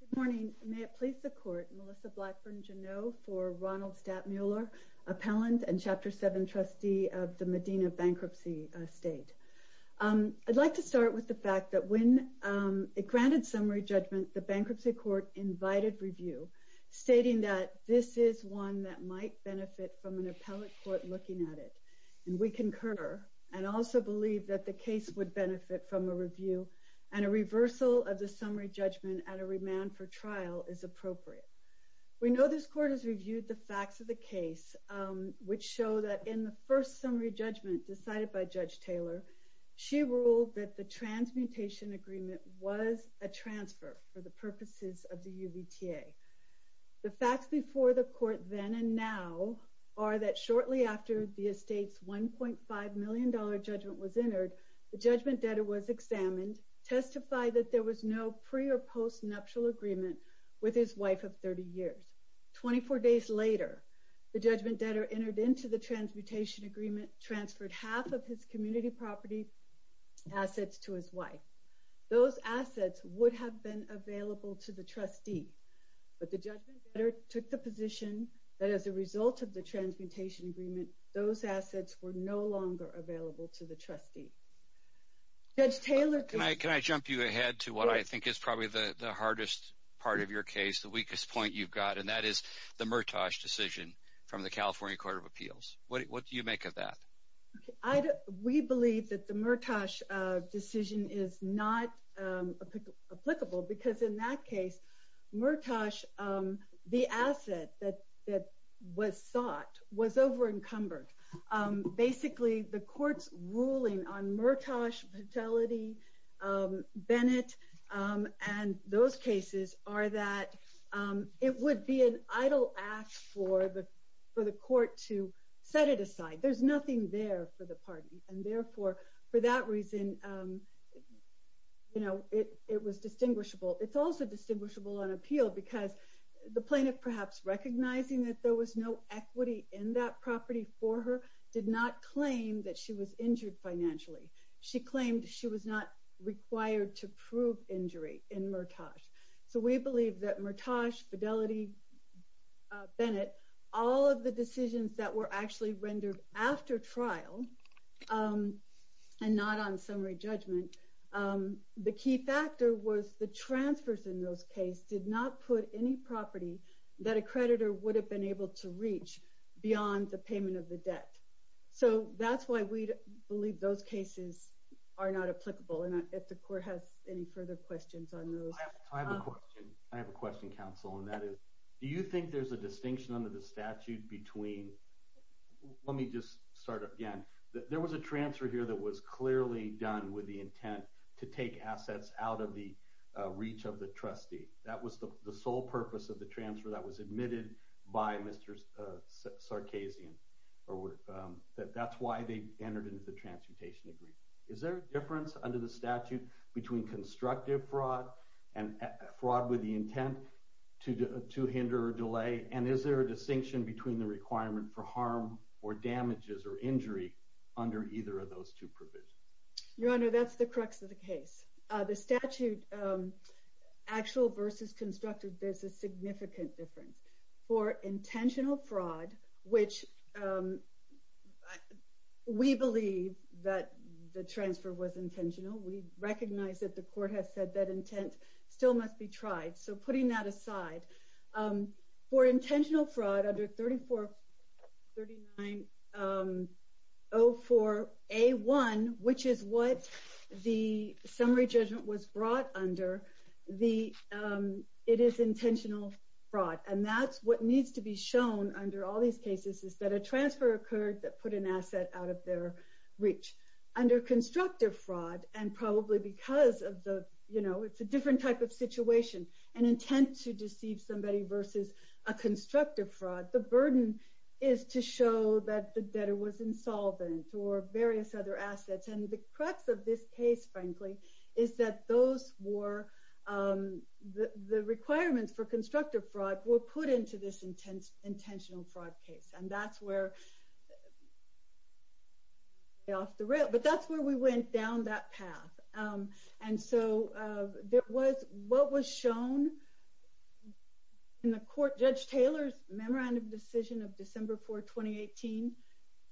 Good morning. May it please the Court, Melissa Blackburn Janot for Ronald Stattmuller, Appellant and Chapter 7 Trustee of the Medina Bankruptcy State. I'd like to start with the fact that when it granted summary judgment, the Bankruptcy Court invited review, stating that this is one that might benefit from an appellate court looking at it. And we concur and also believe that the case would benefit from a review and a reversal of the summary judgment at a remand for trial is appropriate. We know this Court has reviewed the facts of the case, which show that in the first summary judgment decided by Judge Taylor, she ruled that the transmutation agreement was a transfer for the purposes of the UVTA. The facts before the Court then and now are that shortly after the estate's $1.5 million judgment was entered, the judgment debtor was examined, testified that there was no pre or post nuptial agreement with his wife of 30 years. 24 days later, the judgment debtor entered into the transmutation agreement, transferred half of his community property assets to his wife. Those assets would have been available to the trustee, but the judgment debtor took the position that as a result of the transmutation agreement, those assets were no longer available to the trustee. Judge Taylor... Can I jump you ahead to what I think is probably the hardest part of your case, the weakest point you've got, and that is the Murtosh decision from the California Court of Appeals. What do you make of that? We believe that the Murtosh decision is not applicable because in that case, Murtosh, the asset that was sought was over-encumbered. Basically, the court's ruling on Murtosh fatality, Bennett, and those cases are that it would be an idle act for the court to set it aside. There's nothing there for the party, and therefore, for that reason, it was distinguishable. It's also distinguishable on appeal because the plaintiff, perhaps recognizing that there was no equity in that property for her, did not claim that she was injured financially. She claimed she was not required to prove injury in Murtosh. So we believe that Murtosh, Fidelity, Bennett, all of the decisions that were actually rendered after trial, and not on summary judgment, the key factor was the transfers in those cases did not put any property that a creditor would have been able to reach beyond the payment of the debt. So that's why we believe those cases are not applicable, and if the court has any further questions on those. I have a question. I have a question, counsel, and that is, do you think there's a distinction under the statute between, let me just start again. There was a transfer here that was clearly done with the intent to take assets out of the reach of the trustee. That was the sole purpose of the transfer that was admitted by Mr. Sarkazian. That's why they entered into the transmutation agreement. Is there a difference under the statute between constructive fraud and fraud with the intent to hinder or delay, and is there a distinction between the requirement for harm or damages or injury under either of those two provisions? Your Honor, that's the crux of the case. The statute, actual versus constructive, there's a significant difference. For intentional fraud, which we believe that the transfer was still must be tried, so putting that aside, for intentional fraud under 3404A1, which is what the summary judgment was brought under, it is intentional fraud, and that's what needs to be shown under all these cases is that a transfer occurred that put an asset out of their reach. Under constructive fraud, and probably because it's a different type of situation, an intent to deceive somebody versus a constructive fraud, the burden is to show that the debtor was insolvent or various other assets, and the crux of this case, frankly, is that the requirements for constructive fraud were put into this intentional fraud case, and that's where we went down that path. And so what was shown in the court, Judge Taylor's memorandum decision of December 4, 2018,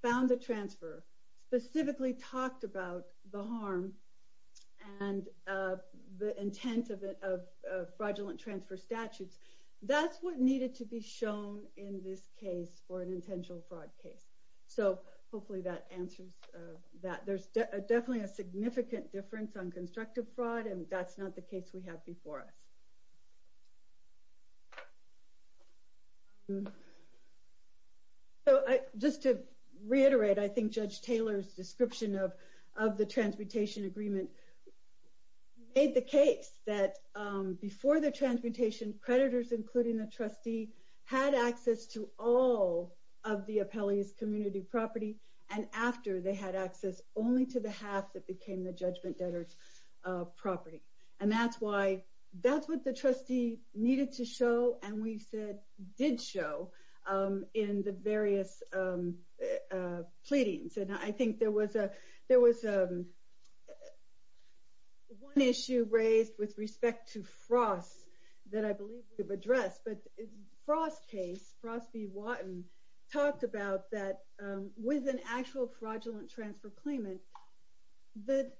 found a transfer, specifically talked about the harm and the intent of fraudulent transfer statutes. That's what needed to be shown in this case for intentional fraud case. So hopefully that answers that. There's definitely a significant difference on constructive fraud, and that's not the case we have before us. So just to reiterate, I think Judge Taylor's description of the transmutation agreement made the case that before the transmutation, creditors, including the trustee, had access to all of the appellee's community property, and after they had access only to the half that became the judgment debtor's property. And that's what the trustee needed to show, and we said did show, in the various pleadings. And I think there was one issue raised with Frost v. Watton, talked about that with an actual fraudulent transfer claimant, the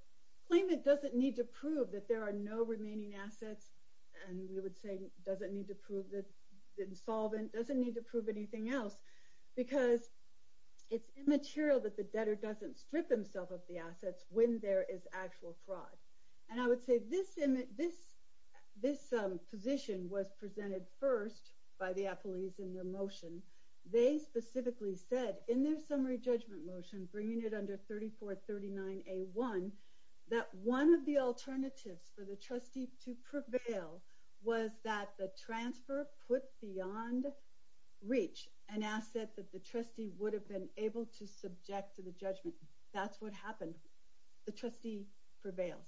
claimant doesn't need to prove that there are no remaining assets, and we would say doesn't need to prove the insolvent, doesn't need to prove anything else, because it's immaterial that the debtor doesn't strip himself of the assets when there is actual fraud. And I would say this position was presented first by the appellees in their motion. They specifically said in their summary judgment motion, bringing it under 3439A1, that one of the alternatives for the trustee to prevail was that the transfer put beyond reach an asset that the trustee would have been able to subject to the judgment. That's what happened. The trustee prevails.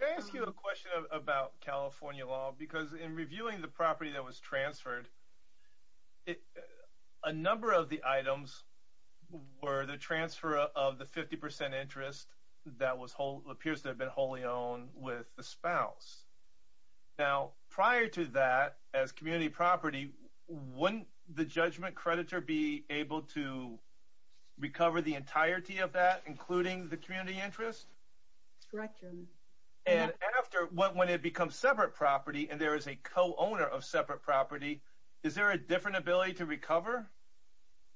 Can I ask you a question about California law? Because in reviewing the property that was transferred, a number of the items were the transfer of the 50% interest that was whole, appears to have been wholly owned with the spouse. Now prior to that, as community property, wouldn't the judgment creditor be able to recover the entirety of that, including the community interest? Correct, Chairman. And after, when it becomes separate property, and there is a co-owner of separate property, is there a different ability to recover?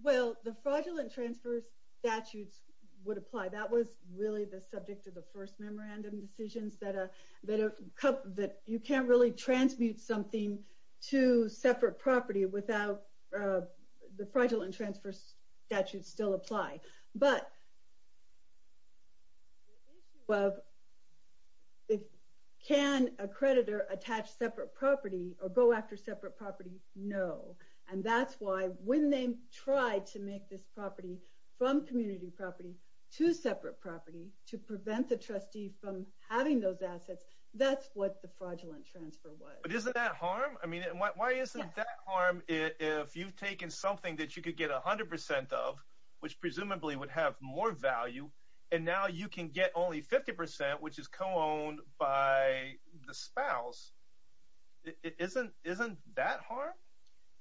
Well, the fraudulent transfer statutes would apply. That was really the subject of the first memorandum decisions, that you can't really transmute something to separate property without the fraudulent transfer statutes still apply. But the issue of, can a creditor attach separate property or go after separate property? No. And that's why when they tried to make this property from community property to separate property to prevent the trustee from having those assets, that's what the fraudulent transfer was. But isn't that harm? I mean, why isn't that harm if you've taken something that you could get 100% of, which presumably would have more value, and now you can get only 50%, which is co-owned by the spouse. Isn't that harm?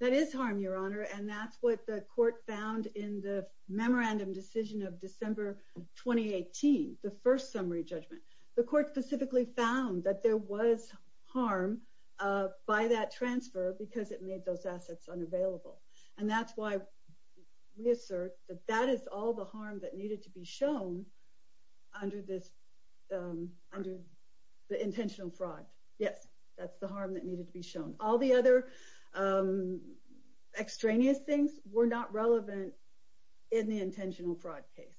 That is harm, Your Honor. And that's what the court found in the memorandum decision of December 2018, the first summary judgment. The court specifically found that there was harm by that transfer because it made those assets unavailable. And that's why we assert that that is all the harm that needed to be shown under the intentional fraud. Yes, that's the harm that needed to be shown. All the other extraneous things were not relevant in the intentional fraud case.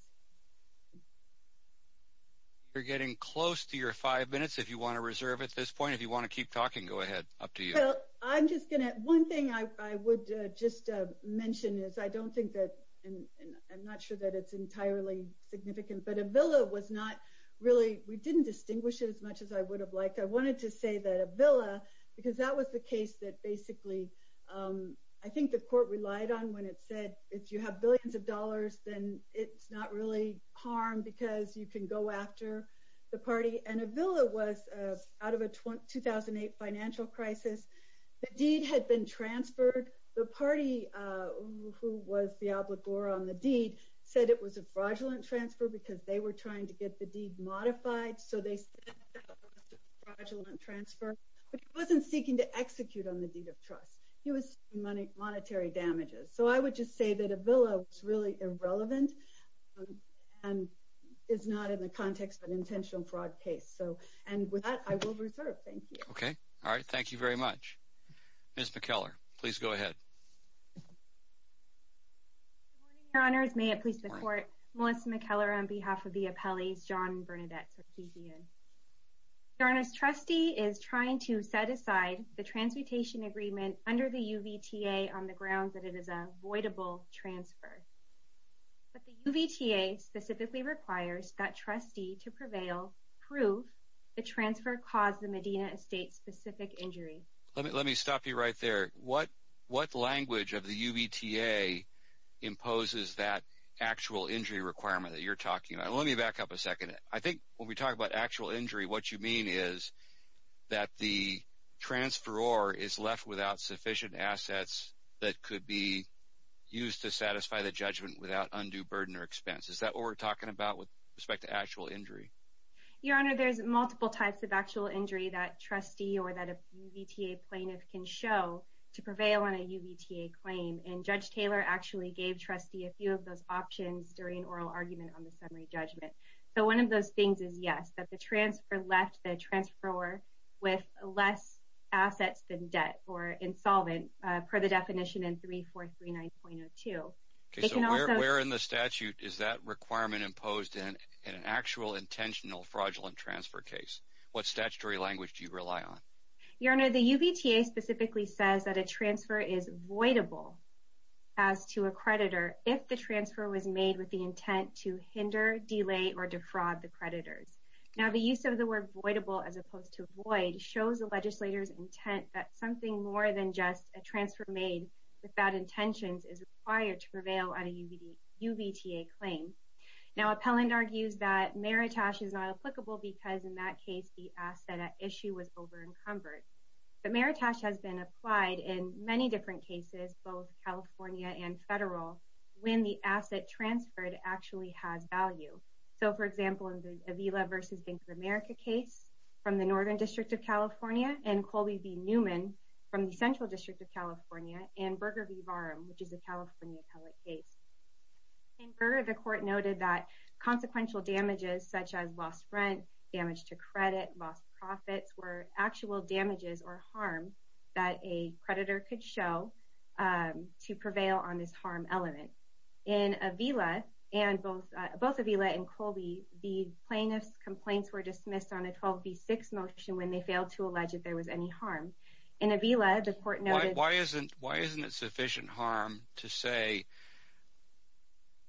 You're getting close to your five minutes if you want to reserve at this point. If you want mention is, I don't think that, and I'm not sure that it's entirely significant, but Avila was not really, we didn't distinguish it as much as I would have liked. I wanted to say that Avila, because that was the case that basically, I think the court relied on when it said, if you have billions of dollars, then it's not really harm because you can go after the party. And Avila was, out of a 2008 financial crisis, the deed had been transferred. The party who was the obligor on the deed said it was a fraudulent transfer because they were trying to get the deed modified. So they said it was a fraudulent transfer. But he wasn't seeking to execute on the deed of trust. He was seeking monetary damages. So I would just say that Avila was really irrelevant and is not in the context of an intentional fraud case. So, and with that, I will reserve. Thank you. Okay. All right. Thank you very much. Ms. McKellar, please go ahead. Good morning, your honors. May it please the court, Melissa McKellar on behalf of the appellees, John and Bernadette. Your honor's trustee is trying to set aside the transmutation agreement under the UVTA on the grounds that it is a voidable transfer. But the UVTA specifically requires that trustee to prevail, prove the transfer caused the Medina estate specific injury. Let me stop you right there. What language of the UVTA imposes that actual injury requirement that you're talking about? Let me back up a second. I think when we talk about actual injury, what you mean is that the transfer or is left without sufficient assets that could be used to satisfy the judgment without undue burden or expense. Is that what we're talking about with respect to actual injury? Your honor, there's multiple types of actual injury that trustee or that UVTA plaintiff can show to prevail on a UVTA claim. And judge Taylor actually gave trustee a few of those options during oral argument on the summary judgment. So one of those things is yes, that transfer left the transfer with less assets than debt or insolvent per the definition in 3439.02. Okay, so where in the statute is that requirement imposed in an actual intentional fraudulent transfer case? What statutory language do you rely on? Your honor, the UVTA specifically says that a transfer is voidable as to a creditor if the transfer was made with the intent to hinder, delay, or defraud the creditors. Now, the use of the word voidable as opposed to void shows the legislator's intent that something more than just a transfer made without intentions is required to prevail on a UVTA claim. Now, appellant argues that meritash is not applicable because in that case, the asset at issue was over encumbered. The meritash has been applied in many different cases, both California and federal, when the asset transferred actually has value. So for example, in the Avila v. Bank of America case from the Northern District of California and Colby v. Newman from the Central District of California and Berger v. Varum, which is a California appellate case. In Berger, the court noted that consequential damages such as lost rent, damage to credit, lost profits, were actual damages or harm that a creditor could show to prevail on this harm element. In Avila, both Avila and Colby, the plaintiff's complaints were dismissed on a 12b6 motion when they failed to allege that there was any harm. In Avila, the court noted... Why isn't it sufficient harm to say,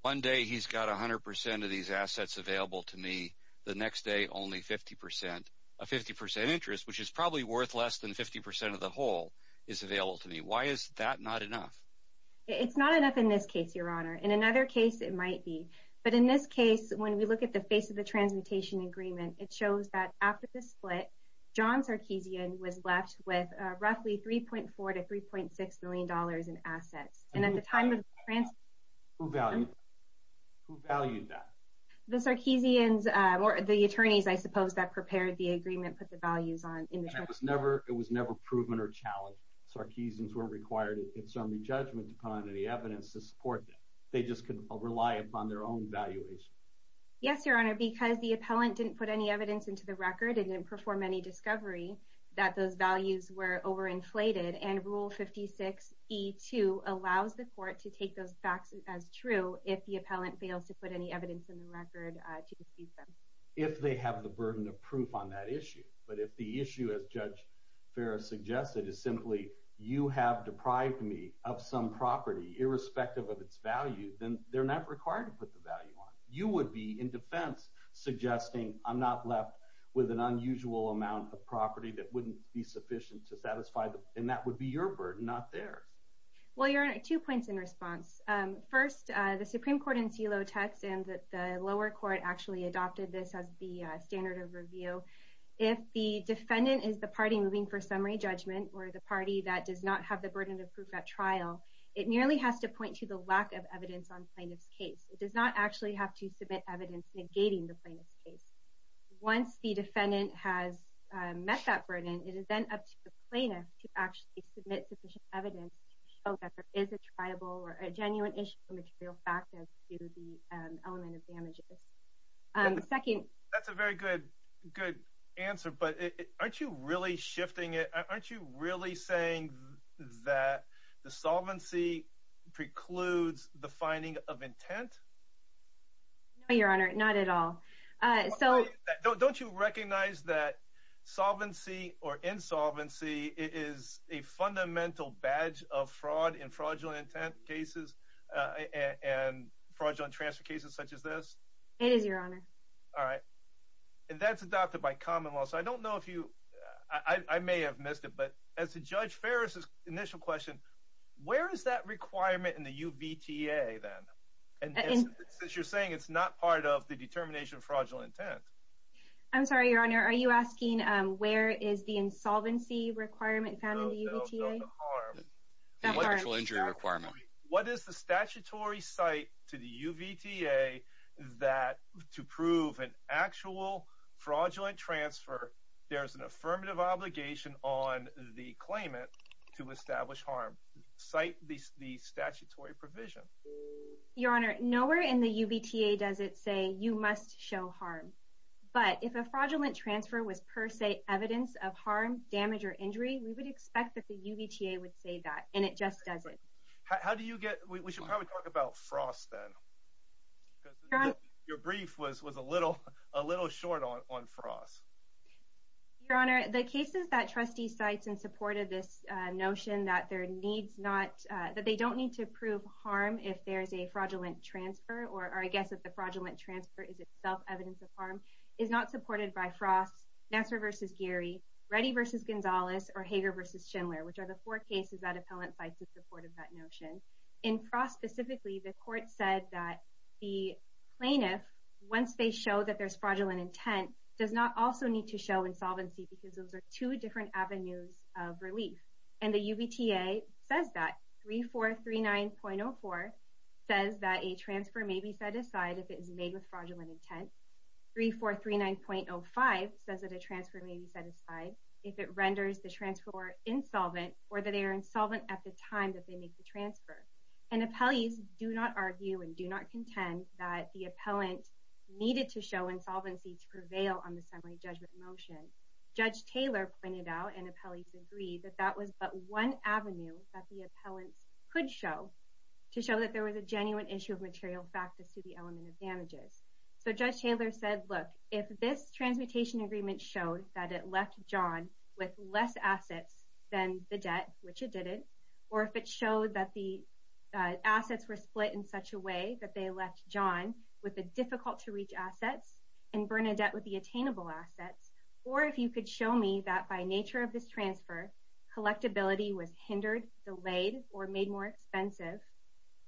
one day he's got 100% of these assets available to me, the next day only 50%. A 50% interest, which is probably worth less than 50% of the whole, is available to me. Why is that not enough? It's not enough in this case, Your Honor. In another case, it might be. But in this case, when we look at the face of the transmutation agreement, it shows that after the split, John Sarkeesian was left with roughly 3.4 to 3.6 million dollars in assets. Who valued that? The Sarkeesians, or the attorneys, I suppose, that prepared the agreement, put the values on... It was never proven or challenged. Sarkeesians weren't required in summary judgment to put on any evidence to support that. They just could rely upon their own valuation. Yes, Your Honor, because the appellant didn't put any evidence into the record and didn't perform any discovery, that those values were over-inflated. And Rule 56E2 allows the court to take those facts as true if the appellant fails to put any evidence in the record to deceive them. If they have the burden of proof on that issue. But if the issue, as Judge Farris suggested, is simply, you have deprived me of some property irrespective of its value, then they're not required to put the value on. You would be, in defense, suggesting I'm not left with an unusual amount of property that wouldn't be sufficient to satisfy them. And that would be your burden, not theirs. Well, Your Honor, two points in response. First, the Supreme Court in Celotex and the lower court actually adopted this as the standard of review. If the defendant is the party moving for summary judgment, or the party that does not have the burden of proof at trial, it merely has to point to the lack of evidence on plaintiff's case. It does not actually have to submit evidence negating the plaintiff's case. Once the defendant has met that sufficient evidence to show that there is a tribal or a genuine issue of material factors to the element of damages. That's a very good answer. But aren't you really shifting it? Aren't you really saying that the solvency precludes the finding of intent? No, Your Honor, not at all. Don't you recognize that solvency or insolvency is a fundamental badge of fraud in fraudulent intent cases and fraudulent transfer cases such as this? It is, Your Honor. All right. And that's adopted by common law. So I don't know if you, I may have missed it, but as to Judge Ferris's initial question, where is that requirement in the UVTA then? And since you're saying it's not part of the determination of fraudulent intent. I'm sorry, Your Honor, are you asking where is the insolvency requirement found in the UVTA? The actual injury requirement. What is the statutory site to the UVTA that to prove an actual fraudulent transfer, there's an affirmative obligation on the claimant to establish harm? Cite the statutory provision. Your Honor, nowhere in the UVTA does it say you must show harm, but if a fraudulent transfer was per se evidence of harm, damage, or injury, we would expect that the UVTA would say that, and it just doesn't. How do you get, we should probably talk about frost then. Your brief was a little short on frost. Your Honor, the cases that trustee cites in support of this notion that there needs not, that they don't need to prove harm if there's a fraudulent transfer, or I guess if the fraudulent transfer is itself evidence of harm, is not supported by frost, Nassar v. Geary, Reddy v. Gonzalez, or Hager v. Schindler, which are the four cases that appellant cites in support of that notion. In frost specifically, the court said that the plaintiff, once they show that there's fraudulent intent, does not also need to show insolvency because those are two different avenues of relief, and the UVTA says that. 3439.04 says that a transfer may be set aside if it is made with fraudulent intent. 3439.05 says that a transfer may be set aside if it renders the transferor insolvent or that they are insolvent at the time that they make the transfer, and appellees do not argue and do not contend that the appellant needed to show insolvency to prevail on the summary judgment motion. Judge Taylor pointed out, and appellees agree, that that was but one avenue that the appellants could show to show that there was a genuine issue of material fact as to the element of damages. So Judge Taylor said, look, if this transmutation agreement showed that it left John with less assets than the debt, which it didn't, or if it showed that the assets were split in such a way that they left John with the difficult-to-reach assets and Bernadette with the attainable assets, or if you could show me that by nature of this transfer, collectability was hindered, delayed, or made more expensive,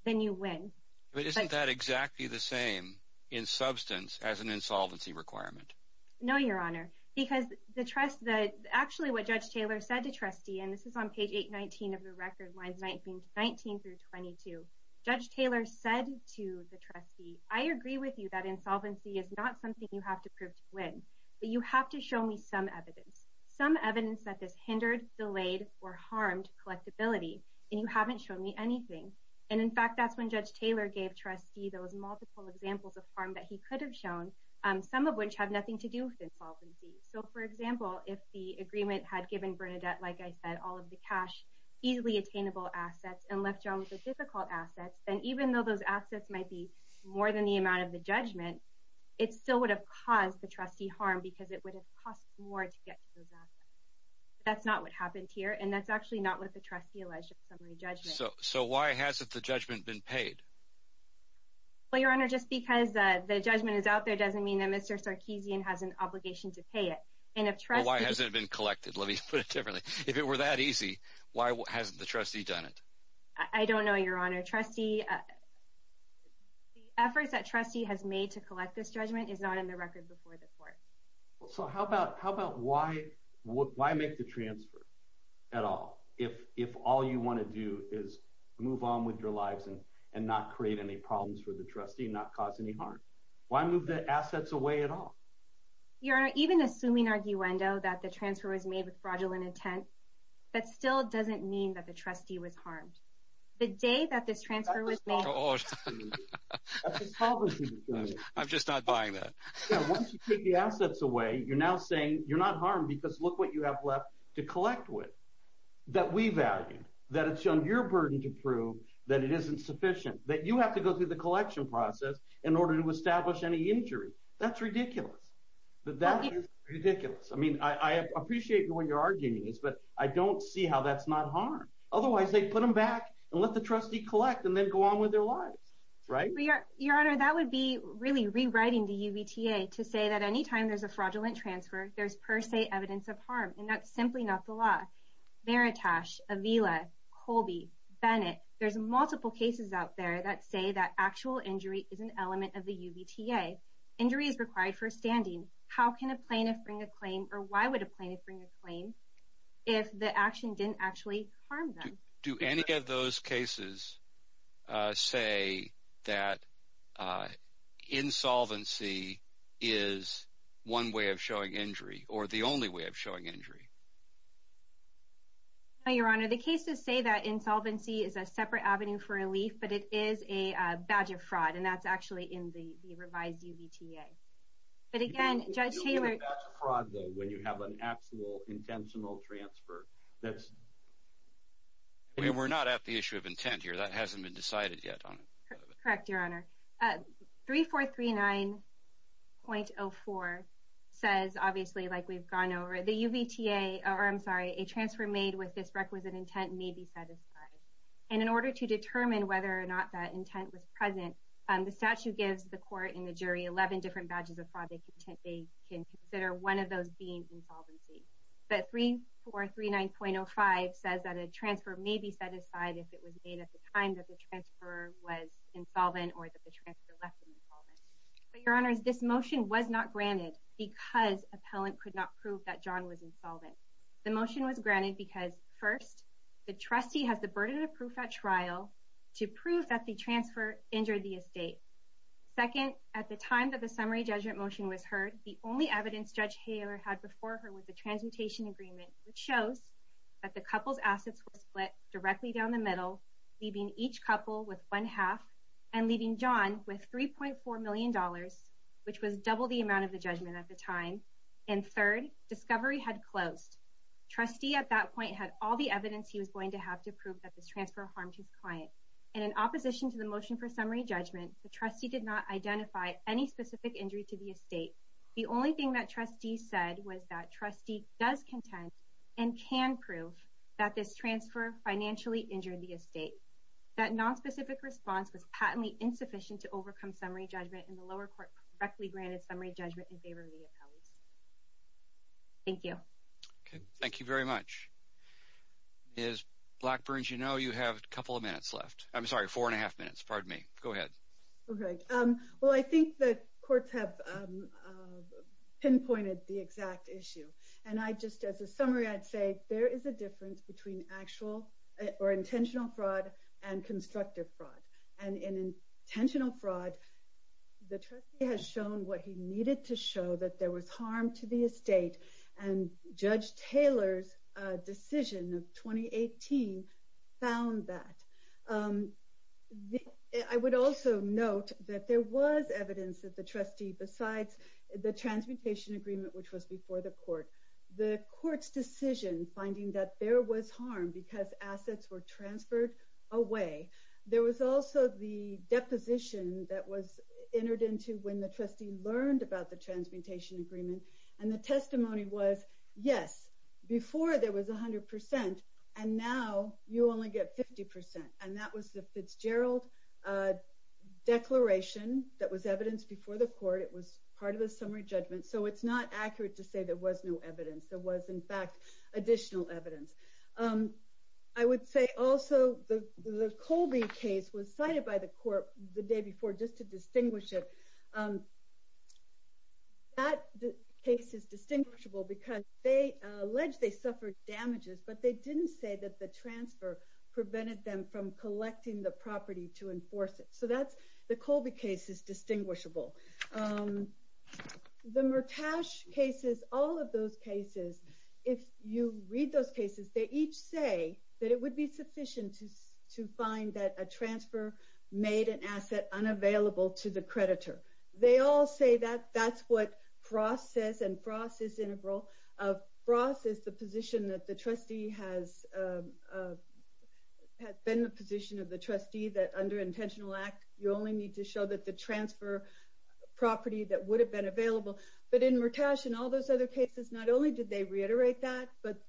then you win. But isn't that exactly the same in substance as an insolvency requirement? No, Your Honor, because the trust, that actually what Judge Taylor said to trustee, and this is on page 819 of the record lines 19 through 22, Judge Taylor said to the trustee, I agree with you that insolvency is not something you have to prove to win, but you have to show me some evidence, some evidence that this hindered, delayed, or harmed collectability, and you haven't shown me anything. And in fact, that's when Judge Taylor gave trustee those multiple examples of harm that he could have shown, some of which have nothing to do with insolvency. So for example, if the agreement had given Bernadette, like I said, all of the cash, easily attainable assets, and left John with the difficult assets, then even though those assets might be more than the amount of the judgment, it still would have caused the trustee harm because it would have cost more to get to those assets. That's not what happened here, and that's actually not what the trustee alleged in the summary judgment. So why hasn't the judgment been paid? Well, Your Honor, just because the judgment is out there doesn't mean that Mr. Sarkeesian has an obligation to pay it. And if trustee... Why hasn't it been collected? Let me ask you that easy. Why hasn't the trustee done it? I don't know, Your Honor. Trustee... The efforts that trustee has made to collect this judgment is not in the record before the court. So how about why make the transfer at all if all you want to do is move on with your lives and not create any problems for the trustee, not cause any harm? Why move the assets away at all? Your Honor, even assuming arguendo that the transfer was made with fraudulent intent, that still doesn't mean that the trustee was harmed. The day that this transfer was made... I'm just not buying that. Once you take the assets away, you're now saying you're not harmed because look what you have left to collect with that we value, that it's shown your burden to prove that it isn't sufficient, that you have to go through the collection process in order to establish any injury. That's ridiculous. That is ridiculous. I mean, I appreciate what you're saying, but I don't see how that's not harm. Otherwise, they put them back and let the trustee collect and then go on with their lives, right? Your Honor, that would be really rewriting the UBTA to say that any time there's a fraudulent transfer, there's per se evidence of harm and that's simply not the law. Veritas, Avila, Colby, Bennett, there's multiple cases out there that say that actual injury is an element of the UBTA. Injury is required for standing. How can a plaintiff or why would a plaintiff bring a claim if the action didn't actually harm them? Do any of those cases say that insolvency is one way of showing injury or the only way of showing injury? No, Your Honor. The cases say that insolvency is a separate avenue for relief, but it is a badge of fraud, and that's actually in the revised UBTA. But again, Judge Taylor- You'll get a badge of fraud, though, when you have an actual intentional transfer. That's- We're not at the issue of intent here. That hasn't been decided yet, Your Honor. Correct, Your Honor. 3439.04 says, obviously, like we've gone over, the UBTA, or I'm sorry, a transfer made with this requisite intent may be set aside. And in order to determine whether or not that intent was present, the statute gives the court and the jury 11 different badges of fraud they can consider, one of those being insolvency. But 3439.05 says that a transfer may be set aside if it was made at the time that the transfer was insolvent or that the transfer left insolvent. But, Your Honors, this motion was not granted because appellant could not prove that First, the trustee has the burden of proof at trial to prove that the transfer injured the estate. Second, at the time that the summary judgment motion was heard, the only evidence Judge Hayler had before her was the transmutation agreement, which shows that the couple's assets were split directly down the middle, leaving each couple with one half and leaving John with $3.4 million, which was double the amount of the judgment at the time. And third, discovery had closed. Trustee at that point had all the evidence he was going to have to prove that this transfer harmed his client. And in opposition to the motion for summary judgment, the trustee did not identify any specific injury to the estate. The only thing that trustee said was that trustee does contend and can prove that this transfer financially injured the estate. That nonspecific response was patently insufficient to overcome summary judgment, and the lower court correctly granted summary judgment in favor of the appellants. Thank you. Okay. Thank you very much. Ms. Blackburn, as you know, you have a couple of minutes left. I'm sorry, four and a half minutes. Pardon me. Go ahead. Okay. Well, I think that courts have pinpointed the exact issue. And I just, as a summary, I'd say there is a difference between or intentional fraud and constructive fraud. And in intentional fraud, the trustee has shown what he needed to show that there was harm to the estate. And Judge Taylor's decision of 2018 found that. I would also note that there was evidence that the trustee, besides the transmutation agreement, which was before the court, the court's decision finding that there was harm because assets were transferred away, there was also the deposition that was entered into when the trustee learned about the transmutation agreement. And the testimony was, yes, before there was 100%, and now you only get 50%. And that was the Fitzgerald declaration that was evidenced before the court. It was part of the summary judgment. So it's not I would say also the Colby case was cited by the court the day before just to distinguish it. That case is distinguishable because they alleged they suffered damages, but they didn't say that the transfer prevented them from collecting the property to enforce it. So the Colby case is they each say that it would be sufficient to find that a transfer made an asset unavailable to the creditor. They all say that that's what Frost says, and Frost is integral. Frost is the position that the trustee has been the position of the trustee that under intentional act, you only need to show that the transfer property that would have been available. But in Murtash and all those other cases, not only did they reiterate that, but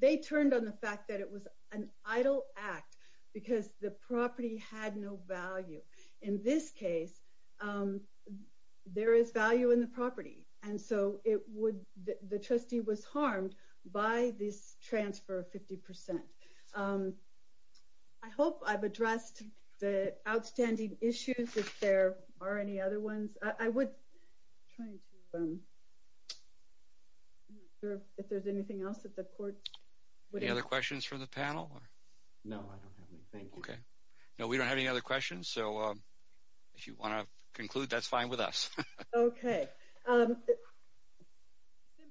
they turned on the fact that it was an idle act because the property had no value. In this case, there is value in the property. And so the trustee was harmed by this transfer of 50%. I hope I've addressed the outstanding issues. If there are any other ones, I would try to if there's anything else that the court... Any other questions from the panel? No, I don't have anything. Okay. No, we don't have any other questions. So if you want to conclude, that's fine with us. Okay. Okay.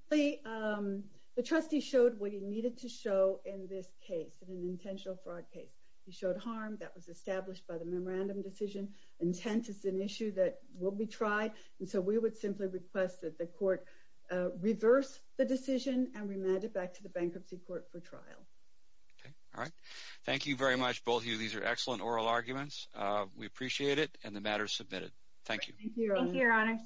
The trustee showed what he needed to show in this case, in an intentional fraud case. He showed harm that was established by the memorandum decision. Intent is an issue that will be tried. And so we would simply request that the court reverse the decision and remand it back to the bankruptcy court for trial. Okay. All right. Thank you very much, both of you. These are excellent oral arguments. We appreciate it and the matter is submitted. Thank you. Thank you, Your Honors.